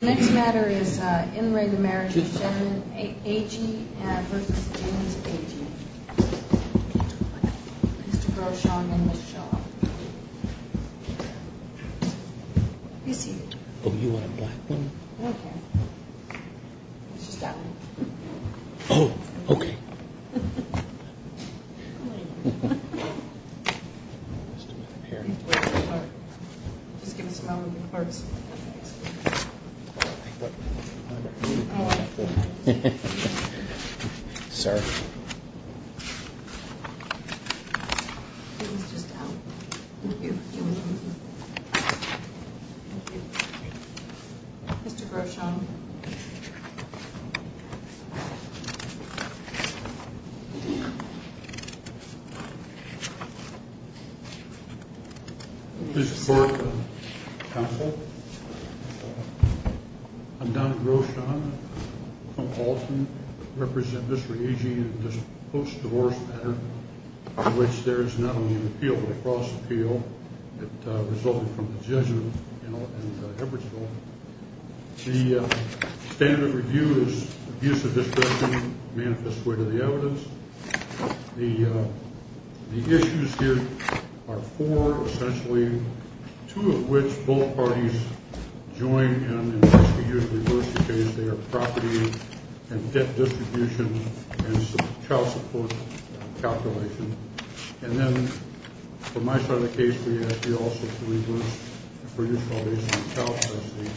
The next matter is in re Marriage of Agee v. James Agee. Mr. Groshong and Ms. Shaw. Be seated. Oh, you want a black one? I don't care. It's just that one. Oh, okay. Just give us a moment. I don't care. Sir. It was just out. Thank you. Thank you. Mr. Groshong. This is for counsel. I'm Donald Groshong from Alton. I represent Mr. Agee in this post-divorce matter, in which there is not only an appeal, but a cross-appeal that resulted from the judgment in Everettsville. The standard of review is abuse of discretion manifests way to the evidence. The issues here are four, essentially, two of which both parties join and in which we use reverse because they are property and debt distribution and child support calculation. And then, for my side of the case, we ask you also to reverse for your colleagues on child custody.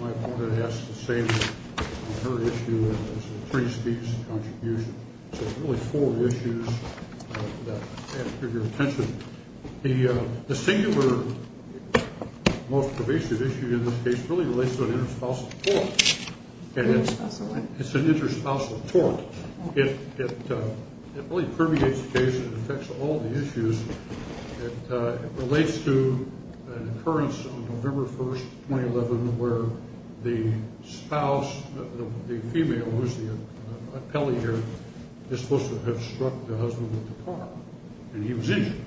My opponent asks the same on her issue as the priest's contribution. So, really, four issues that I ask for your attention. The singular most pervasive issue in this case really relates to an interspousal tort. Interspousal what? It's an interspousal tort. It really permeates the case. It affects all the issues. It relates to an occurrence on November 1, 2011, where the spouse, the female, who is the appellee here, is supposed to have struck the husband with the car, and he was injured,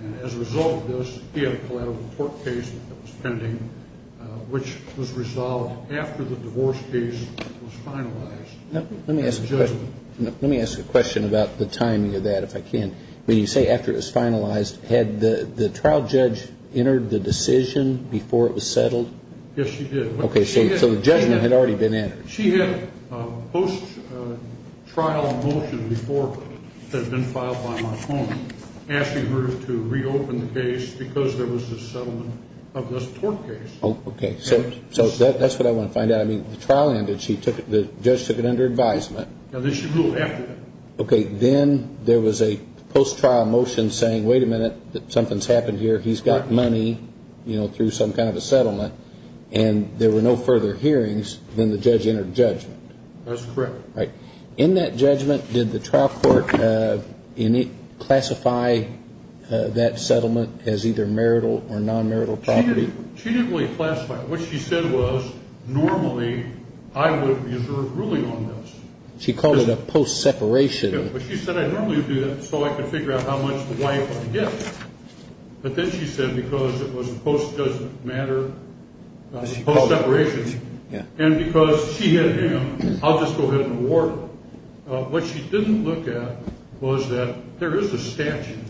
and as a result of this, he had a collateral tort case that was pending, which was resolved after the divorce case was finalized. Let me ask a question about the timing of that, if I can. When you say after it was finalized, had the trial judge entered the decision before it was settled? Yes, she did. Okay, so the judgment had already been entered. She had a post-trial motion before it had been filed by my opponent asking her to reopen the case because there was a settlement of this tort case. Okay. So that's what I want to find out. I mean, the trial ended. The judge took it under advisement. And then she ruled after that. Okay. Then there was a post-trial motion saying, wait a minute, something's happened here, he's got money, you know, through some kind of a settlement, and there were no further hearings, then the judge entered judgment. That's correct. Right. In that judgment, did the trial court classify that settlement as either marital or non-marital property? She didn't really classify it. What she said was normally I would reserve ruling on this. She called it a post-separation. Yeah, but she said I'd normally do that so I could figure out how much the wife would get. But then she said because it was a post-judgment matter, post-separation, and because she had him, I'll just go ahead and award her. What she didn't look at was that there is a statute,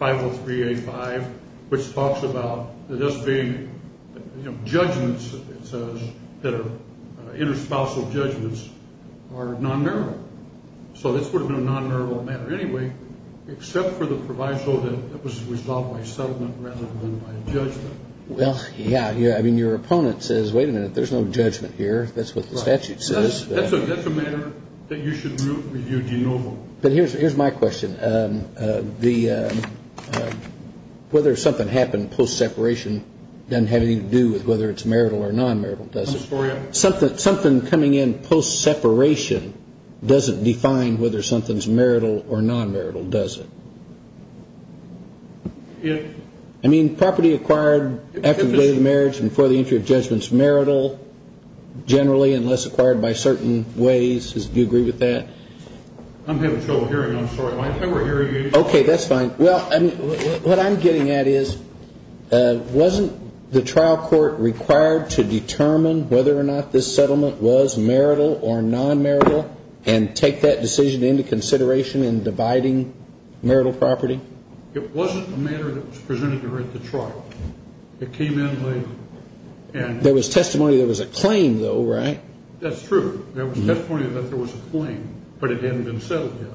50385, which talks about this being judgments that are interspousal judgments are non-marital. So this would have been a non-marital matter anyway, except for the proviso that it was resolved by settlement rather than by judgment. Well, yeah. I mean, your opponent says, wait a minute, there's no judgment here. That's what the statute says. That's a matter that you should review de novo. But here's my question. Whether something happened post-separation doesn't have anything to do with whether it's marital or non-marital, does it? I'm sorry? Something coming in post-separation doesn't define whether something's marital or non-marital, does it? I mean, property acquired after the day of marriage and before the entry of judgment is marital generally, unless acquired by certain ways. Do you agree with that? I'm having trouble hearing. I'm sorry. I'm over-hearing you. Okay. That's fine. Well, what I'm getting at is wasn't the trial court required to determine whether or not this settlement was marital or non-marital and take that decision into consideration in dividing marital property? It wasn't a matter that was presented during the trial. It came in late. There was testimony there was a claim, though, right? That's true. There was testimony that there was a claim, but it hadn't been settled yet.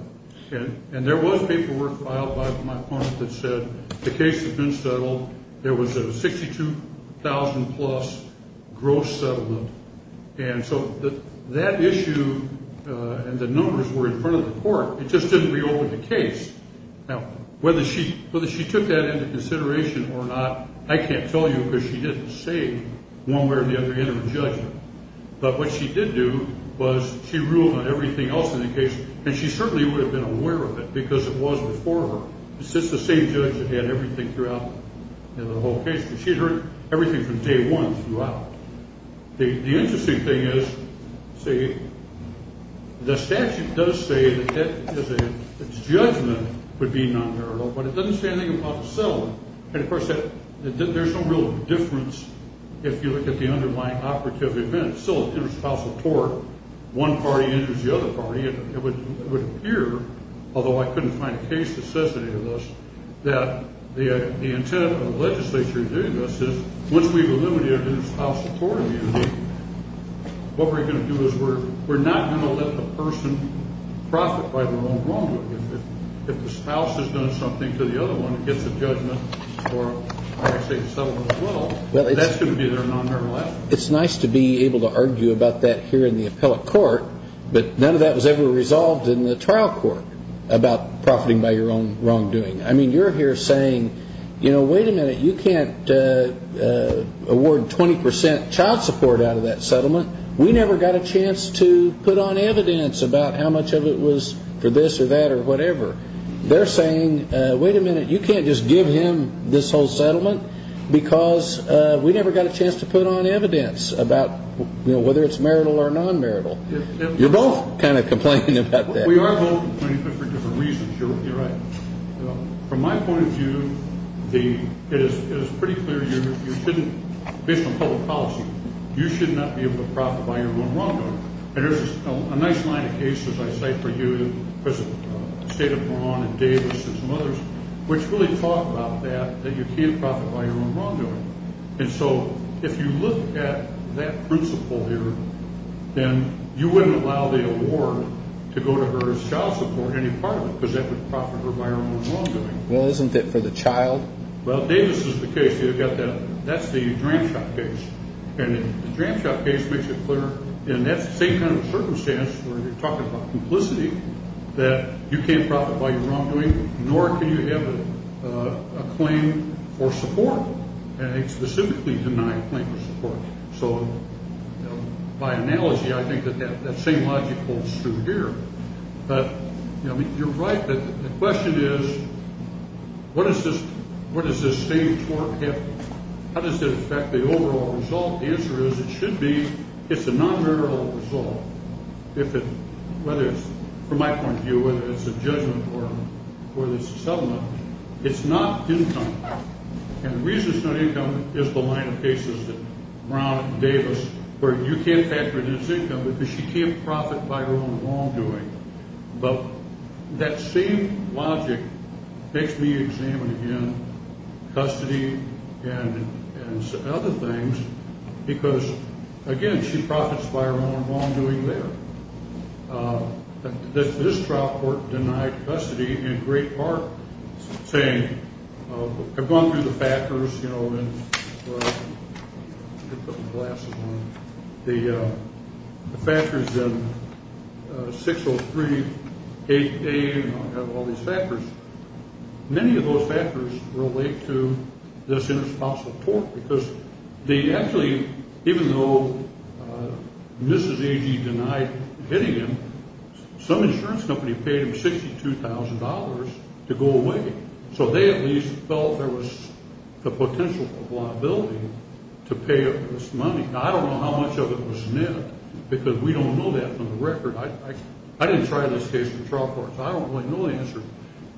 And there was paperwork filed by my opponent that said the case had been settled. There was a $62,000-plus gross settlement. And so that issue and the numbers were in front of the court. It just didn't reopen the case. Now, whether she took that into consideration or not, I can't tell you because she didn't say one way or the other in her judgment. But what she did do was she ruled on everything else in the case, and she certainly would have been aware of it because it was before her. It's just the same judge that had everything throughout the whole case. She heard everything from day one throughout. The interesting thing is, see, the statute does say that judgment would be non-marital, but it doesn't say anything about the settlement. And, of course, there's no real difference if you look at the underlying operative events. One party injures the other party. It would appear, although I couldn't find a case that says any of this, that the intent of the legislature doing this is once we've eliminated interspousal court immunity, what we're going to do is we're not going to let the person profit by their own wrongdoing. If the spouse has done something to the other one, gets a judgment or, like I say, a settlement as well, that's going to be their non-marital asset. It's nice to be able to argue about that here in the appellate court, but none of that was ever resolved in the trial court about profiting by your own wrongdoing. I mean, you're here saying, you know, wait a minute, you can't award 20 percent child support out of that settlement. We never got a chance to put on evidence about how much of it was for this or that or whatever. They're saying, wait a minute, you can't just give him this whole settlement because we never got a chance to put on evidence about, you know, whether it's marital or non-marital. You're both kind of complaining about that. We are both complaining for different reasons. You're right. From my point of view, it is pretty clear you shouldn't, based on public policy, you should not be able to profit by your own wrongdoing. And there's a nice line of cases I cite for you, State of Vermont and Davis and some others, which really talk about that, that you can't profit by your own wrongdoing. And so if you look at that principle here, then you wouldn't allow the award to go to her as child support any part of it because that would profit her by her own wrongdoing. Well, isn't it for the child? Well, Davis is the case. You've got that. That's the Dramshot case. And the Dramshot case makes it clear. And that's the same kind of circumstance where you're talking about complicity, that you can't profit by your wrongdoing, nor can you have a claim for support. And they specifically deny a claim for support. So by analogy, I think that that same logic holds true here. But, you know, you're right. The question is, what does this same tort have to do? How does it affect the overall result? The answer is it should be it's a non-marital result. Whether it's, from my point of view, whether it's a judgment or whether it's a settlement, it's not income. And the reason it's not income is the line of cases that Brown and Davis, where you can't factor it as income because she can't profit by her own wrongdoing. But that same logic makes me examine, again, custody and other things because, again, she profits by her own wrongdoing there. This trial court denied custody in great part saying, I've gone through the factors, you know, and the factors in 6038A, and I have all these factors. Many of those factors relate to this interspousal tort because they actually, even though Mrs. Agee denied hitting him, some insurance company paid him $62,000 to go away. So they at least felt there was the potential for liability to pay up this money. Now, I don't know how much of it was net because we don't know that from the record. I didn't try this case in the trial court, so I don't really know the answer.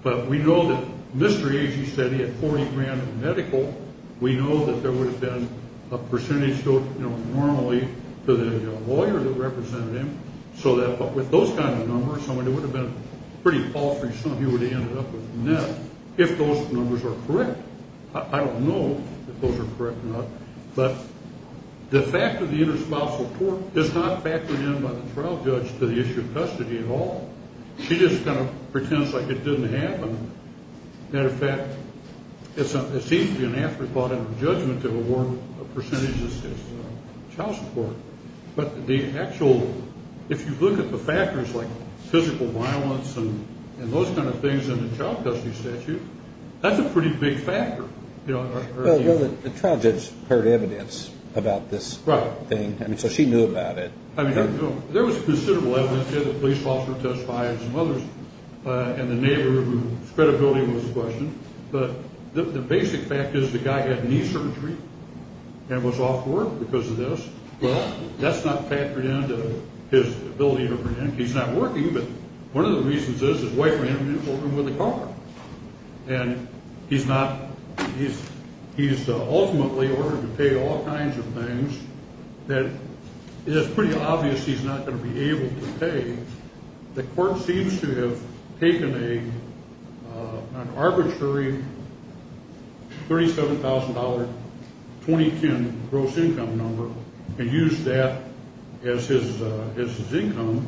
But we know that Mr. Agee said he had $40,000 in medical. We know that there would have been a percentage, you know, normally to the lawyer that represented him. So with those kind of numbers, somebody would have been pretty paltry. Some of you would have ended up with net if those numbers are correct. I don't know if those are correct or not. But the fact of the interspousal tort is not factored in by the trial judge to the issue of custody at all. She just kind of pretends like it didn't happen. As a matter of fact, it seems to be an afterthought in the judgment to award a percentage as child support. But the actual, if you look at the factors like physical violence and those kind of things in the child custody statute, that's a pretty big factor. The trial judge heard evidence about this thing, so she knew about it. I mean, there was considerable evidence. We had the police officer testify and some others, and the neighbor whose credibility was questioned. But the basic fact is the guy had knee surgery and was off work because of this. Well, that's not factored into his ability to prevent. He's not working, but one of the reasons is his wife ran into him in the car. And he's ultimately ordered to pay all kinds of things that it's pretty obvious he's not going to be able to pay. The court seems to have taken an arbitrary $37,000 20-kin gross income number and used that as his income,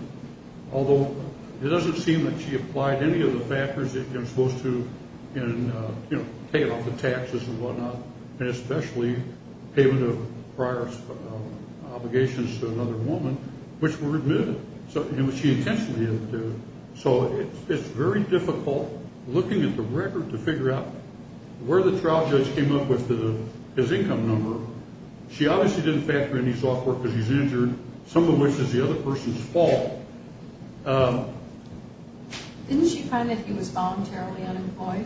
although it doesn't seem that she applied any of the factors that you're supposed to in paying off the taxes and whatnot, and especially payment of prior obligations to another woman, which were admitted, which she intentionally didn't do. So it's very difficult looking at the record to figure out where the trial judge came up with his income number. She obviously didn't factor in he's off work because he's injured, some of which is the other person's fault. Didn't she find that he was voluntarily unemployed?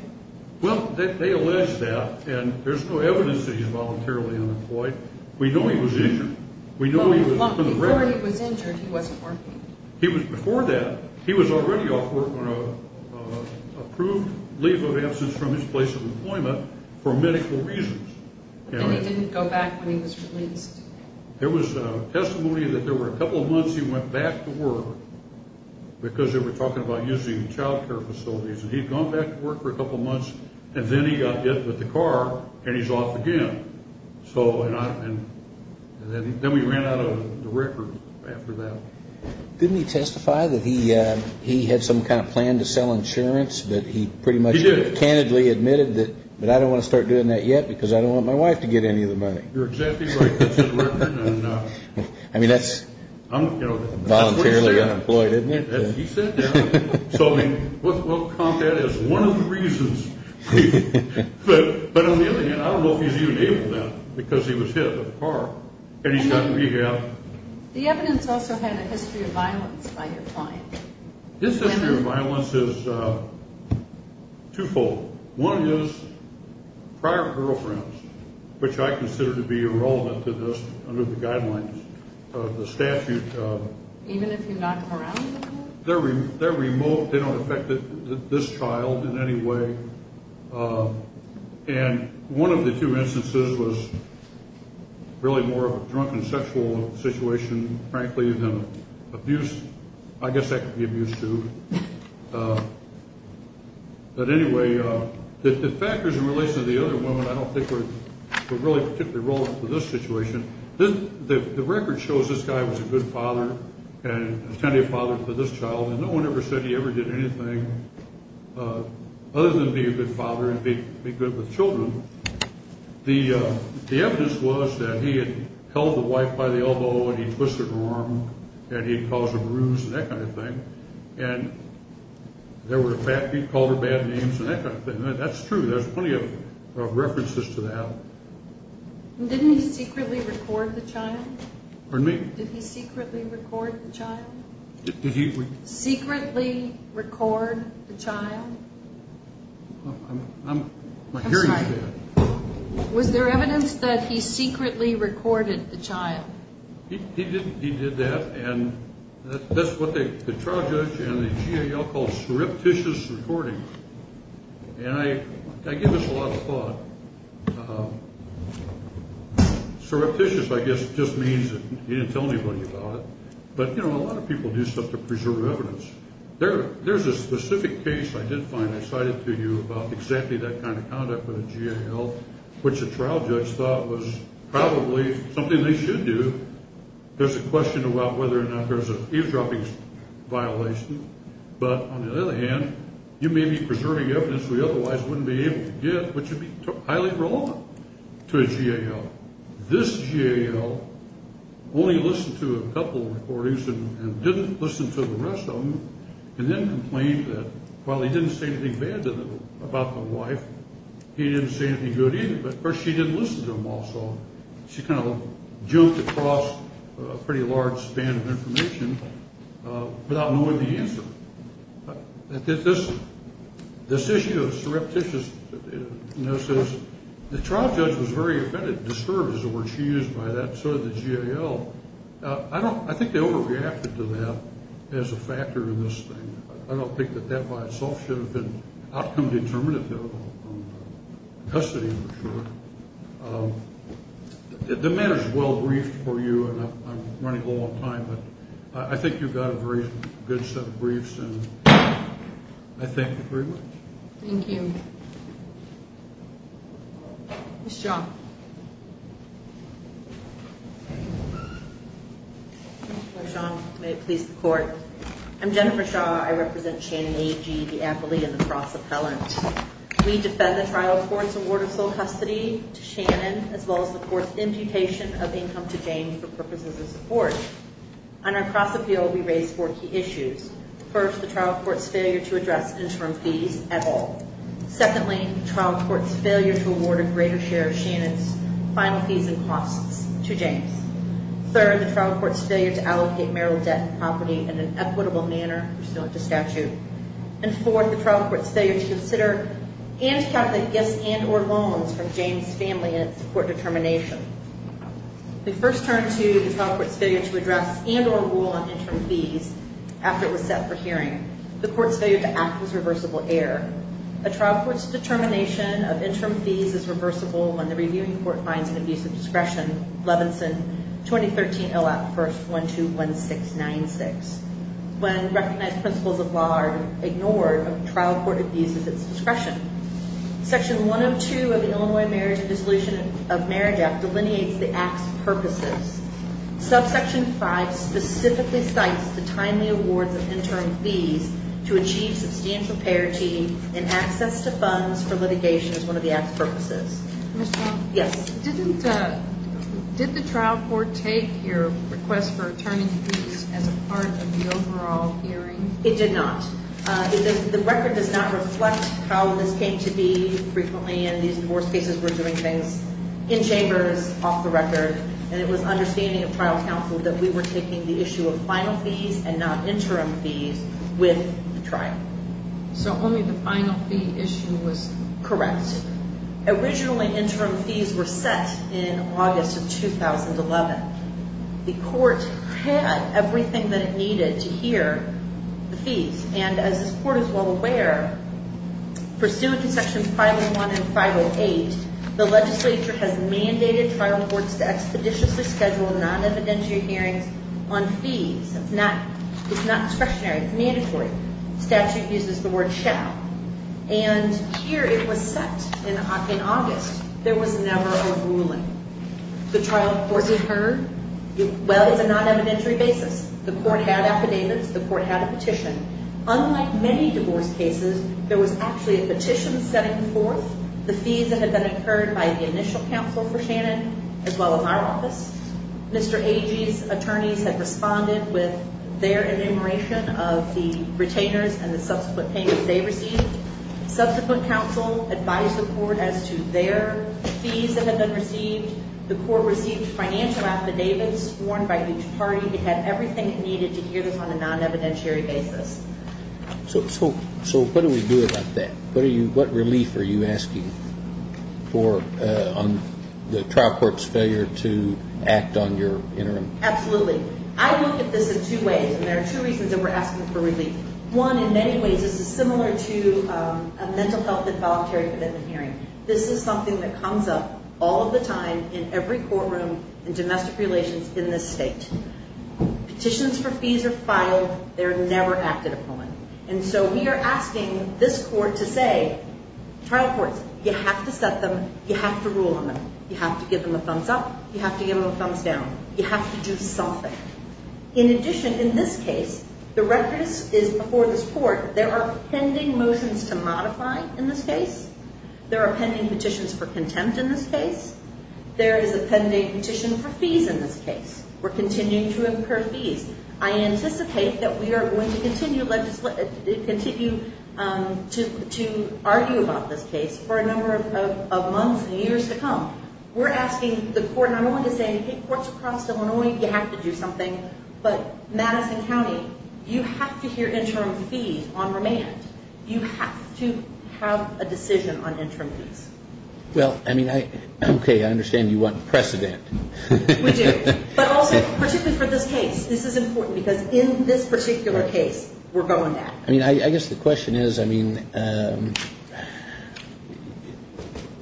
Well, they allege that, and there's no evidence that he's voluntarily unemployed. We know he was injured. Before he was injured, he wasn't working. Before that, he was already off work on an approved leave of absence from his place of employment for medical reasons. And he didn't go back when he was released? There was testimony that there were a couple of months he went back to work because they were talking about using childcare facilities, and he'd gone back to work for a couple of months, and then he got hit with the car, and he's off again. And then we ran out of the record after that. Didn't he testify that he had some kind of plan to sell insurance, that he pretty much candidly admitted that, but I don't want to start doing that yet because I don't want my wife to get any of the money. You're exactly right. I mean, that's voluntarily unemployed, isn't it? He sat down. So, I mean, we'll count that as one of the reasons. But on the other hand, I don't know if he's even able to because he was hit with a car, and he's got to be here. The evidence also had a history of violence by your client. His history of violence is twofold. One is prior girlfriends, which I consider to be irrelevant to this under the guidelines of the statute. Even if you knock them around? They're remote. They don't affect this child in any way. And one of the two instances was really more of a drunken sexual situation, frankly, than abuse. I guess that could be abuse too. But anyway, the factors in relation to the other women I don't think were really particularly relevant to this situation. The record shows this guy was a good father and a tender father for this child, and no one ever said he ever did anything other than be a good father and be good with children. The evidence was that he had held the wife by the elbow, and he twisted her arm, and he had caused a bruise and that kind of thing. And there were bad people who called her bad names and that kind of thing. That's true. There's plenty of references to that. Didn't he secretly record the child? Pardon me? Did he secretly record the child? Did he? Secretly record the child? I'm hearing you say that. Was there evidence that he secretly recorded the child? He did that, and that's what the trial judge and the GAL call surreptitious recording. And I give this a lot of thought. Surreptitious, I guess, just means that he didn't tell anybody about it. But, you know, a lot of people do stuff to preserve evidence. There's a specific case I did find I cited to you about exactly that kind of conduct with the GAL, which a trial judge thought was probably something they should do. There's a question about whether or not there's an eavesdropping violation. But on the other hand, you may be preserving evidence we otherwise wouldn't be able to get, which would be highly wrong to a GAL. This GAL only listened to a couple of recordings and didn't listen to the rest of them and then complained that while he didn't say anything bad about the wife, he didn't say anything good either. But, of course, she didn't listen to them also. She kind of jumped across a pretty large span of information without knowing the answer. This issue of surreptitiousness, the trial judge was very offended, disturbed is the word she used by that, and so did the GAL. I think they overreacted to that as a factor in this thing. I don't think that that by itself should have been outcome determinative of custody, I'm sure. The matter is well briefed for you, and I'm running low on time, but I think you've got a very good set of briefs, and I thank you very much. Thank you. Ms. Shaw. Ms. Shaw, may it please the Court. I'm Jennifer Shaw. I represent Shannon A.G., the appellee and the cross-appellant. We defend the trial court's award of sole custody to Shannon as well as the court's imputation of income to Jane for purposes of support. On our cross-appeal, we raised four key issues. Secondly, the trial court's failure to award a greater share of Shannon's final fees and costs to James. Third, the trial court's failure to allocate marital debt and property in an equitable manner pursuant to statute. And fourth, the trial court's failure to consider and calculate gifts and or loans from James' family in its court determination. We first turned to the trial court's failure to address and or rule on interim fees after it was set for hearing. The court's failure to act was reversible error. A trial court's determination of interim fees is reversible when the reviewing court finds an abuse of discretion, Levinson 2013 ILAP 121696. When recognized principles of law are ignored, a trial court abuses its discretion. Section 102 of the Illinois Marriage and Dissolution of Marriage Act delineates the act's purposes. Subsection 5 specifically cites the timely awards of interim fees to achieve substantial parity and access to funds for litigation as one of the act's purposes. Ms. Trump? Yes. Did the trial court take your request for returning fees as part of the overall hearing? It did not. The record does not reflect how this came to be. Frequently, in these divorce cases, we're doing things in chambers, off the record. And it was understanding of trial counsel that we were taking the issue of final fees and not interim fees with the trial. So only the final fee issue was? Correct. Originally, interim fees were set in August of 2011. The court had everything that it needed to hear the fees. And as this court is well aware, pursuant to Section 501 and 508, the legislature has mandated trial courts to expeditiously schedule non-evidentiary hearings on fees. It's not discretionary. It's mandatory. Statute uses the word shall. And here it was set in August. There was never a ruling. The trial courts have heard, well, it's a non-evidentiary basis. The court had affidavits. The court had a petition. Unlike many divorce cases, there was actually a petition setting forth the fees that had been incurred by the initial counsel for Shannon, as well as our office. Mr. Agee's attorneys had responded with their enumeration of the retainers and the subsequent payments they received. Subsequent counsel advised the court as to their fees that had been received. The court received financial affidavits sworn by each party. It had everything it needed to hear this on a non-evidentiary basis. So what do we do about that? What relief are you asking for on the trial court's failure to act on your interim? Absolutely. I look at this in two ways, and there are two reasons that we're asking for relief. One, in many ways, this is similar to a mental health and voluntary commitment hearing. This is something that comes up all of the time in every courtroom in domestic relations in this state. Petitions for fees are filed. They're never acted upon. And so we are asking this court to say, trial courts, you have to set them. You have to rule on them. You have to give them a thumbs up. You have to give them a thumbs down. You have to do something. In addition, in this case, the record is before this court. There are pending motions to modify in this case. There are pending petitions for contempt in this case. There is a pending petition for fees in this case. We're continuing to incur fees. I anticipate that we are going to continue to argue about this case for a number of months and years to come. We're asking the court not only to say, hey, courts across Illinois, you have to do something, but Madison County, you have to hear interim fees on remand. You have to have a decision on interim fees. Well, I mean, okay, I understand you want precedent. We do. But also, particularly for this case, this is important because in this particular case, we're going to act. I mean, I guess the question is, I mean,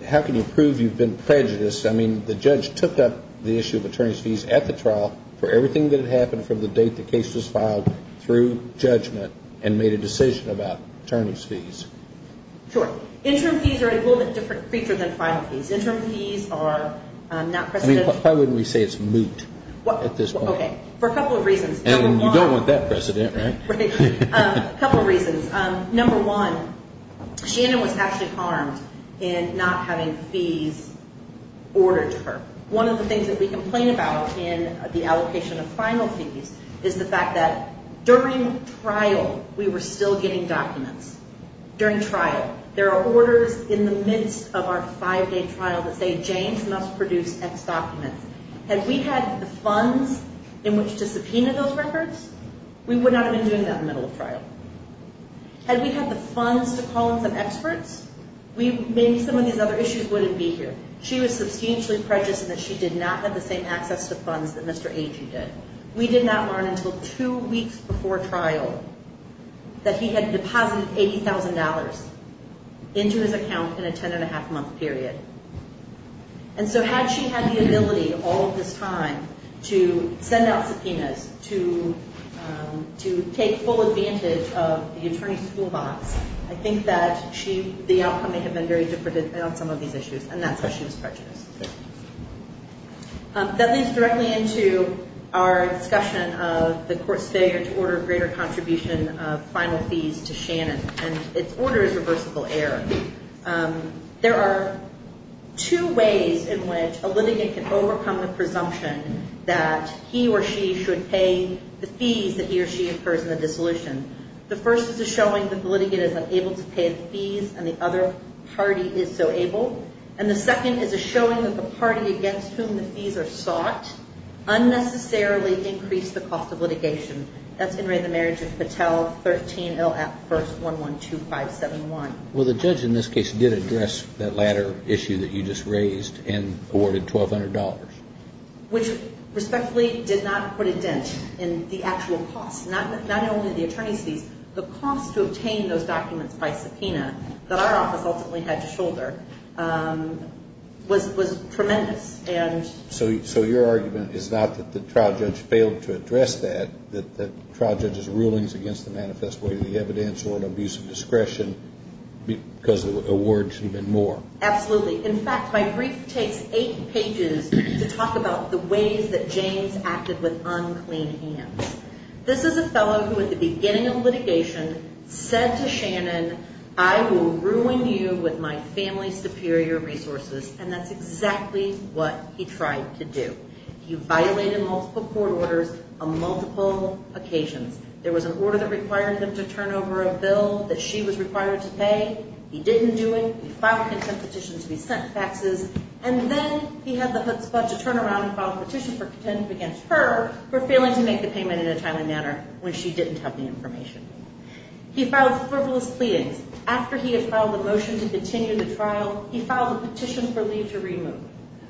how can you prove you've been prejudiced? I mean, the judge took up the issue of attorney's fees at the trial for everything that had happened from the date the case was filed through judgment and made a decision about attorney's fees. Sure. Interim fees are a little bit different feature than final fees. Interim fees are not precedent. I mean, why wouldn't we say it's moot at this point? Okay. For a couple of reasons. And you don't want that precedent, right? Right. A couple of reasons. Number one, Shannon was actually harmed in not having fees ordered to her. One of the things that we complain about in the allocation of final fees is the fact that during trial, we were still getting documents. During trial, there are orders in the midst of our five-day trial that say Janes must produce X documents. Had we had the funds in which to subpoena those records, we would not have been doing that in the middle of trial. Had we had the funds to call in some experts, maybe some of these other issues wouldn't be here. She was substantially prejudiced in that she did not have the same access to funds that Mr. Agee did. We did not learn until two weeks before trial that he had deposited $80,000 into his account in a ten-and-a-half-month period. And so had she had the ability all of this time to send out subpoenas, to take full advantage of the attorney's toolbox, I think that the outcome may have been very different on some of these issues, and that's why she was prejudiced. That leads directly into our discussion of the court's failure to order a greater contribution of final fees to Shannon, and its order is reversible error. There are two ways in which a litigant can overcome the presumption that he or she should pay the fees that he or she incurs in the dissolution. The first is a showing that the litigant is unable to pay the fees, and the other party is so able. And the second is a showing that the party against whom the fees are sought unnecessarily increased the cost of litigation. That's in Ray and the Marriage of Patel, 13LF112571. Well, the judge in this case did address that latter issue that you just raised and awarded $1,200. Which respectfully did not put a dent in the actual cost. Not only the attorney's fees, the cost to obtain those documents by subpoena that our office ultimately had to shoulder was tremendous. So your argument is not that the trial judge failed to address that, that the trial judge's rulings against the manifest way of the evidence were an abuse of discretion because the awards had been more. Absolutely. In fact, my brief takes eight pages to talk about the ways that James acted with unclean hands. This is a fellow who at the beginning of litigation said to Shannon, I will ruin you with my family's superior resources. And that's exactly what he tried to do. He violated multiple court orders on multiple occasions. There was an order that required him to turn over a bill that she was required to pay. He didn't do it. He filed a petition to be sent faxes, and then he had the chutzpah to turn around and file a petition for contempt against her for failing to make the payment in a timely manner when she didn't have the information. He filed frivolous pleadings. After he had filed a motion to continue the trial, he filed a petition for leave to remove,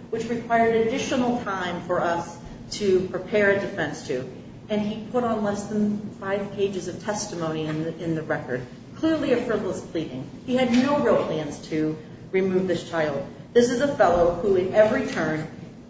which required additional time for us to prepare a defense to. And he put on less than five pages of testimony in the record. Clearly a frivolous pleading. He had no real plans to remove this child. This is a fellow who at every turn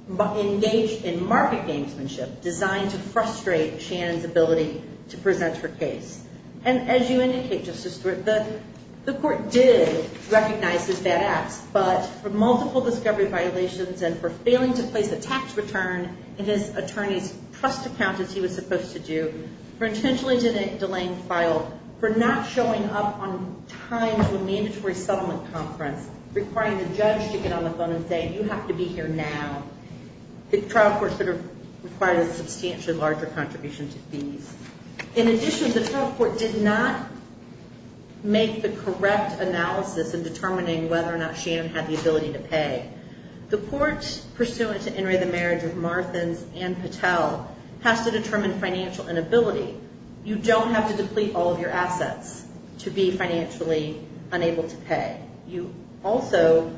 engaged in market gamesmanship designed to frustrate Shannon's ability to present her case. And as you indicate, Justice Stewart, the court did recognize his bad acts, but for multiple discovery violations and for failing to place a tax return in his attorney's trust account as he was supposed to do, for intentionally delaying file, for not showing up on time to a mandatory settlement conference, requiring the judge to get on the phone and say, you have to be here now, the trial court required a substantially larger contribution to fees. In addition, the trial court did not make the correct analysis in determining whether or not Shannon had the ability to pay. The court, pursuant to In re the marriage of Marthins and Patel, has to determine financial inability. You don't have to deplete all of your assets to be financially unable to pay. You also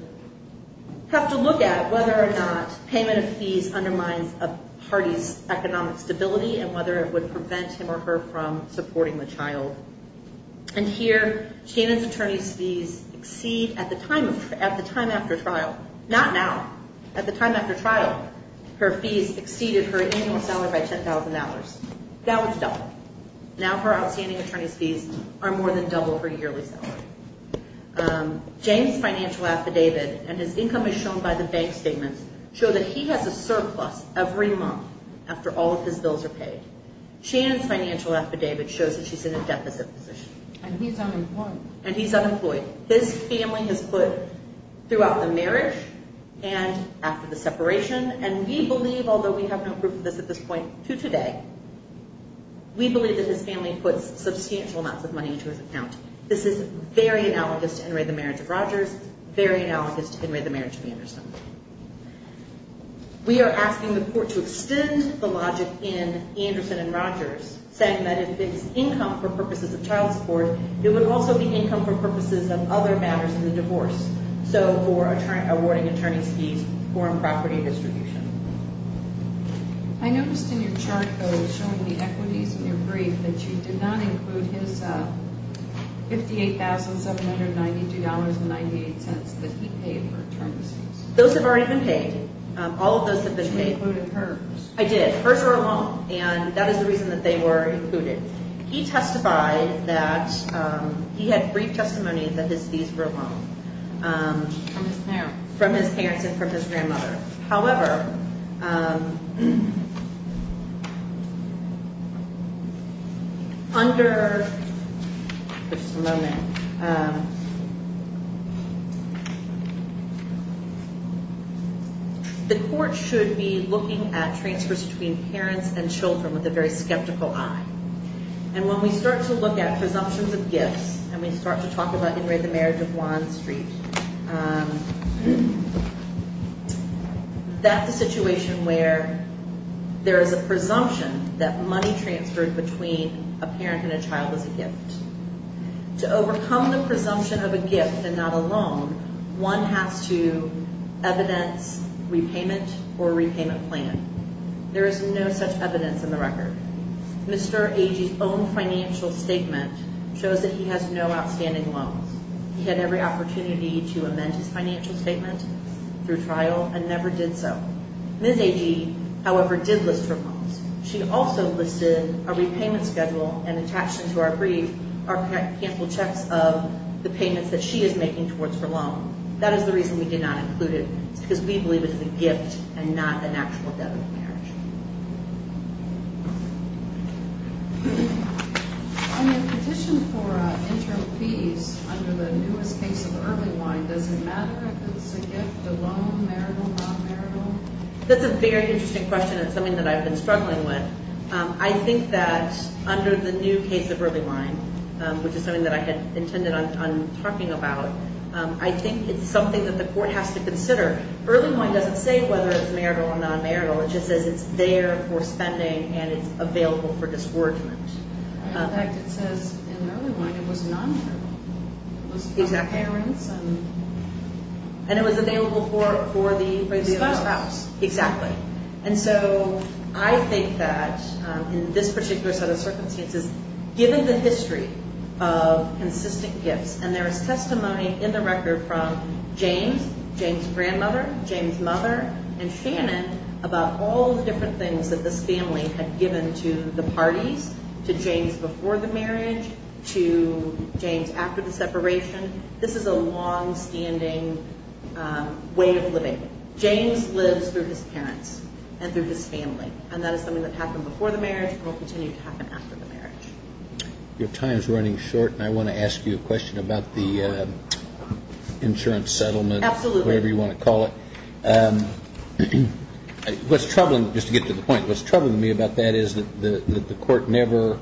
have to look at whether or not payment of fees undermines a party's economic stability and whether it would prevent him or her from supporting the child. And here, Shannon's attorney's fees exceed, at the time after trial, not now, at the time after trial, her fees exceeded her annual salary by $10,000. That was double. Now her outstanding attorney's fees are more than double her yearly salary. Jane's financial affidavit, and his income is shown by the bank statements, show that he has a surplus every month after all of his bills are paid. Shannon's financial affidavit shows that she's in a deficit position. And he's unemployed. And he's unemployed. His family has put, throughout the marriage and after the separation, and we believe, although we have no proof of this at this point to today, we believe that his family puts substantial amounts of money into his account. This is very analogous to Henry, the marriage of Rogers, very analogous to Henry, the marriage of Anderson. We are asking the court to extend the logic in Anderson and Rogers, saying that if it's income for purposes of child support, it would also be income for purposes of other matters in the divorce. So for awarding attorney's fees, foreign property distribution. I noticed in your chart, though, showing the equities in your brief, that you did not include his $58,792.98 that he paid for attorney's fees. Those have already been paid. All of those have been paid. You included hers. I did. Hers were alone. And that is the reason that they were included. He testified that he had brief testimony that his fees were alone. From his parents. From his parents and from his grandmother. However, under, just a moment, the court should be looking at transfers between parents and children with a very skeptical eye. And when we start to look at presumptions of gifts, and we start to talk about Henry, the marriage of Juan Street, that's a situation where there is a presumption that money transferred between a parent and a child is a gift. To overcome the presumption of a gift and not a loan, one has to evidence repayment or repayment plan. There is no such evidence in the record. Mr. Agee's own financial statement shows that he has no outstanding loans. He had every opportunity to amend his financial statement through trial and never did so. Ms. Agee, however, did list her loans. She also listed a repayment schedule and attached into our brief our cancel checks of the payments that she is making towards her loan. That is the reason we did not include it. It's because we believe it's a gift and not an actual debt of marriage. On your petition for interim fees under the newest case of early line, does it matter if it's a gift, a loan, marital, non-marital? That's a very interesting question and something that I've been struggling with. I think that under the new case of early line, which is something that I had intended on talking about, I think it's something that the court has to consider. Early line doesn't say whether it's marital or non-marital. It just says it's there for spending and it's available for disgorgement. In fact, it says in early line it was non-marital. It was parents and spouse. Exactly. I think that in this particular set of circumstances, given the history of consistent gifts, and there is testimony in the record from James, James' grandmother, James' mother, and Shannon about all the different things that this family had given to the parties, to James before the marriage, to James after the separation. This is a longstanding way of living. James lives through his parents and through his family, and that is something that happened before the marriage and will continue to happen after the marriage. Your time is running short, and I want to ask you a question about the insurance settlement. Absolutely. Whatever you want to call it. What's troubling, just to get to the point, what's troubling me about that is that the court never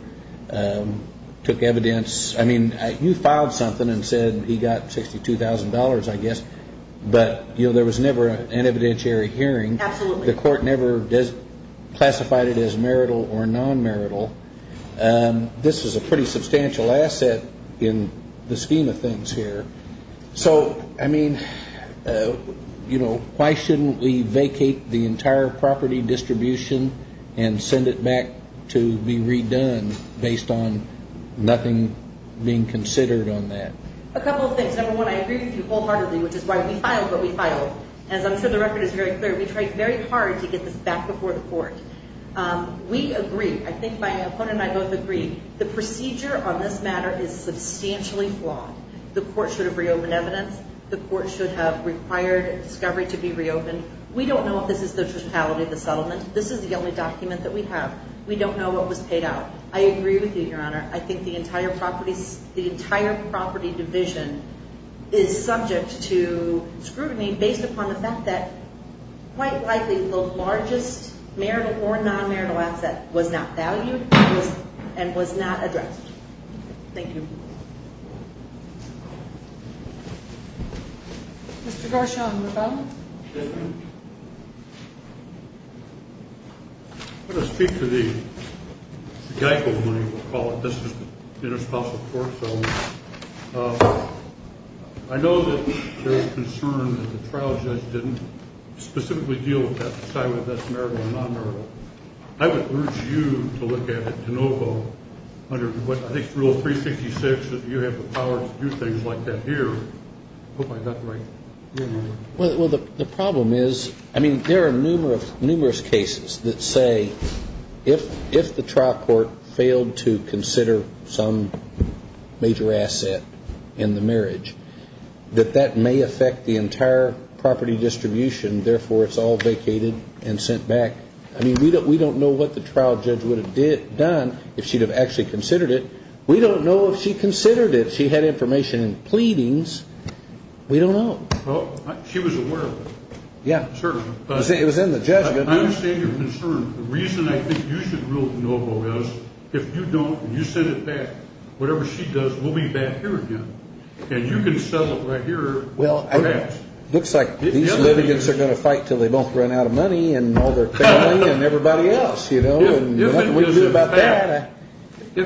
took evidence. I mean, you filed something and said he got $62,000, I guess, but, you know, there was never an evidentiary hearing. Absolutely. The court never classified it as marital or non-marital. This is a pretty substantial asset in the scheme of things here. So, I mean, you know, why shouldn't we vacate the entire property distribution and send it back to be redone based on nothing being considered on that? A couple of things. Number one, I agree with you wholeheartedly, which is why we filed what we filed. As I'm sure the record is very clear, we tried very hard to get this back before the court. We agree. I think my opponent and I both agree. The procedure on this matter is substantially flawed. The court should have reopened evidence. The court should have required discovery to be reopened. We don't know if this is the totality of the settlement. This is the only document that we have. We don't know what was paid out. I agree with you, Your Honor. I think the entire property division is subject to scrutiny based upon the fact that quite likely the largest marital or non-marital asset was not valued and was not addressed. Thank you. Mr. Garshon, rebuttal? I'm going to speak to the Geico money, we'll call it. This is inter-spousal court settlement. I know that there is concern that the trial judge didn't specifically deal with that, decide whether that's marital or non-marital. I would urge you to look at it de novo under, I think, Rule 366, that you have the power to do things like that here. I hope I got that right. Well, the problem is, I mean, there are numerous cases that say if the trial court failed to consider some major asset in the marriage, that that may affect the entire property distribution, therefore it's all vacated and sent back. I mean, we don't know what the trial judge would have done if she'd have actually considered it. We don't know if she considered it. She had information in pleadings. We don't know. Well, she was aware of it. Yeah. Certainly. It was in the judgment. I understand your concern. The reason I think you should rule de novo is if you don't and you send it back, whatever she does, we'll be back here again. And you can settle it right here. Well, it looks like these litigants are going to fight until they both run out of money and all their family and everybody else, you know. If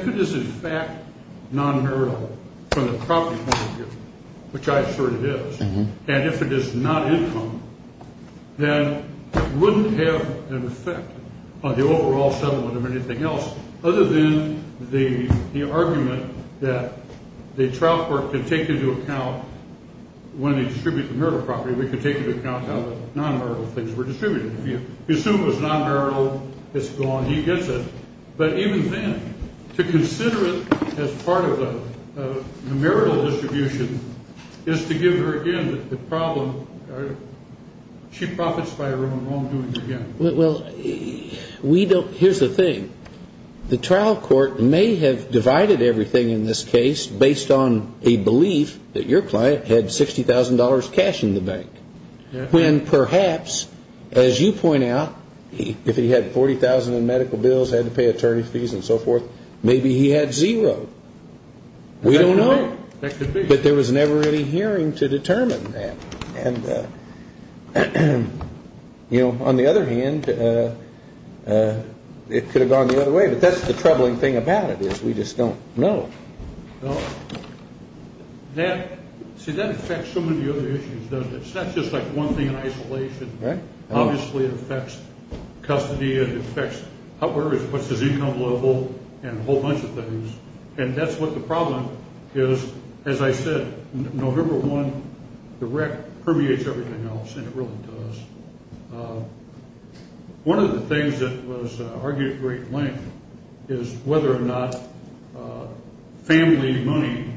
it is, in fact, non-marital from the property point of view, which I assert it is, and if it is not income, then it wouldn't have an effect on the overall settlement of anything else, other than the argument that the trial court could take into account when they distribute the marital property, we could take into account how the non-marital things were distributed. If you assume it was non-marital, it's gone. He gets it. But even then, to consider it as part of the marital distribution is to give her again the problem. She profits by her own home doings again. Well, here's the thing. The trial court may have divided everything in this case based on a belief that your client had $60,000 cash in the bank, when perhaps, as you point out, if he had $40,000 in medical bills, had to pay attorney fees and so forth, maybe he had zero. We don't know. But there was never any hearing to determine that. And, you know, on the other hand, it could have gone the other way. But that's the troubling thing about it is we just don't know. Well, see, that affects so many other issues, doesn't it? It's not just like one thing in isolation. Right. Obviously, it affects custody. It affects what's his income level and a whole bunch of things. And that's what the problem is. As I said, November 1, the wreck permeates everything else, and it really does. One of the things that was argued at great length is whether or not family money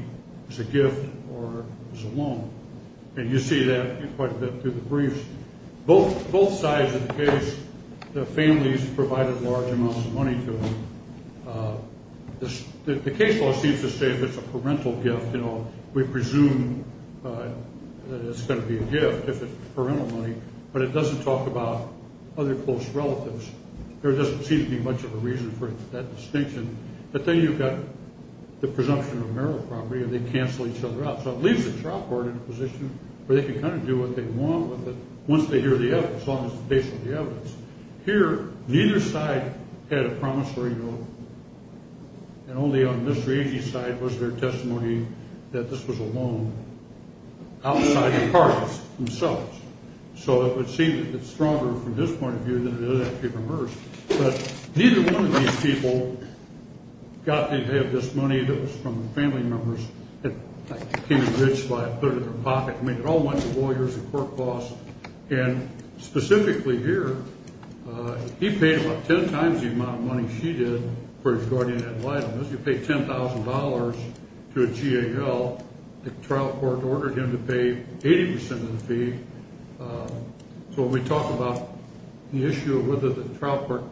is a gift or is a loan. And you see that quite a bit through the briefs. Both sides of the case, the families provided large amounts of money to him. The case law seems to say if it's a parental gift, you know, we presume that it's going to be a gift if it's parental money. But it doesn't talk about other close relatives. There doesn't seem to be much of a reason for that distinction. But then you've got the presumption of marital property, and they cancel each other out. So it leaves the trial court in a position where they can kind of do what they want with it once they hear the evidence, as long as it's based on the evidence. Here, neither side had a promissory note. And only on Mr. Agee's side was there testimony that this was a loan outside the parties themselves. So it would seem that it's stronger from his point of view than it is actually from hers. But neither one of these people got to have this money that was from the family members. It came enriched by a third of their pocket. I mean, it all went to lawyers and court costs. And specifically here, he paid about ten times the amount of money she did for his guardian ad litem. If you pay $10,000 to a GAL, the trial court ordered him to pay 80% of the fee. So when we talk about the issue of whether the trial court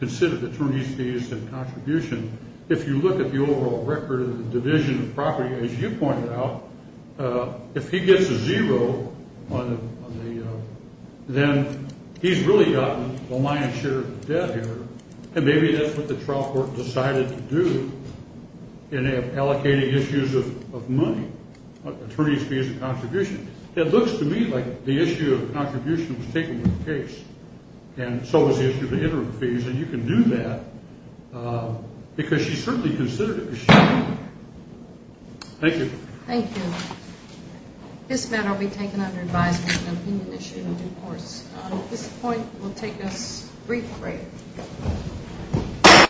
considered the attorney's fees in contribution, if you look at the overall record of the division of property, as you pointed out, if he gets a zero, then he's really gotten the lion's share of the debt here. And maybe that's what the trial court decided to do in allocating issues of money, attorney's fees in contribution. It looks to me like the issue of contribution was taken with the case. And so was the issue of the interim fees. And you can do that because she certainly considered it. Thank you. Thank you. This matter will be taken under advisement and opinion issue in due course. At this point, we'll take a brief break.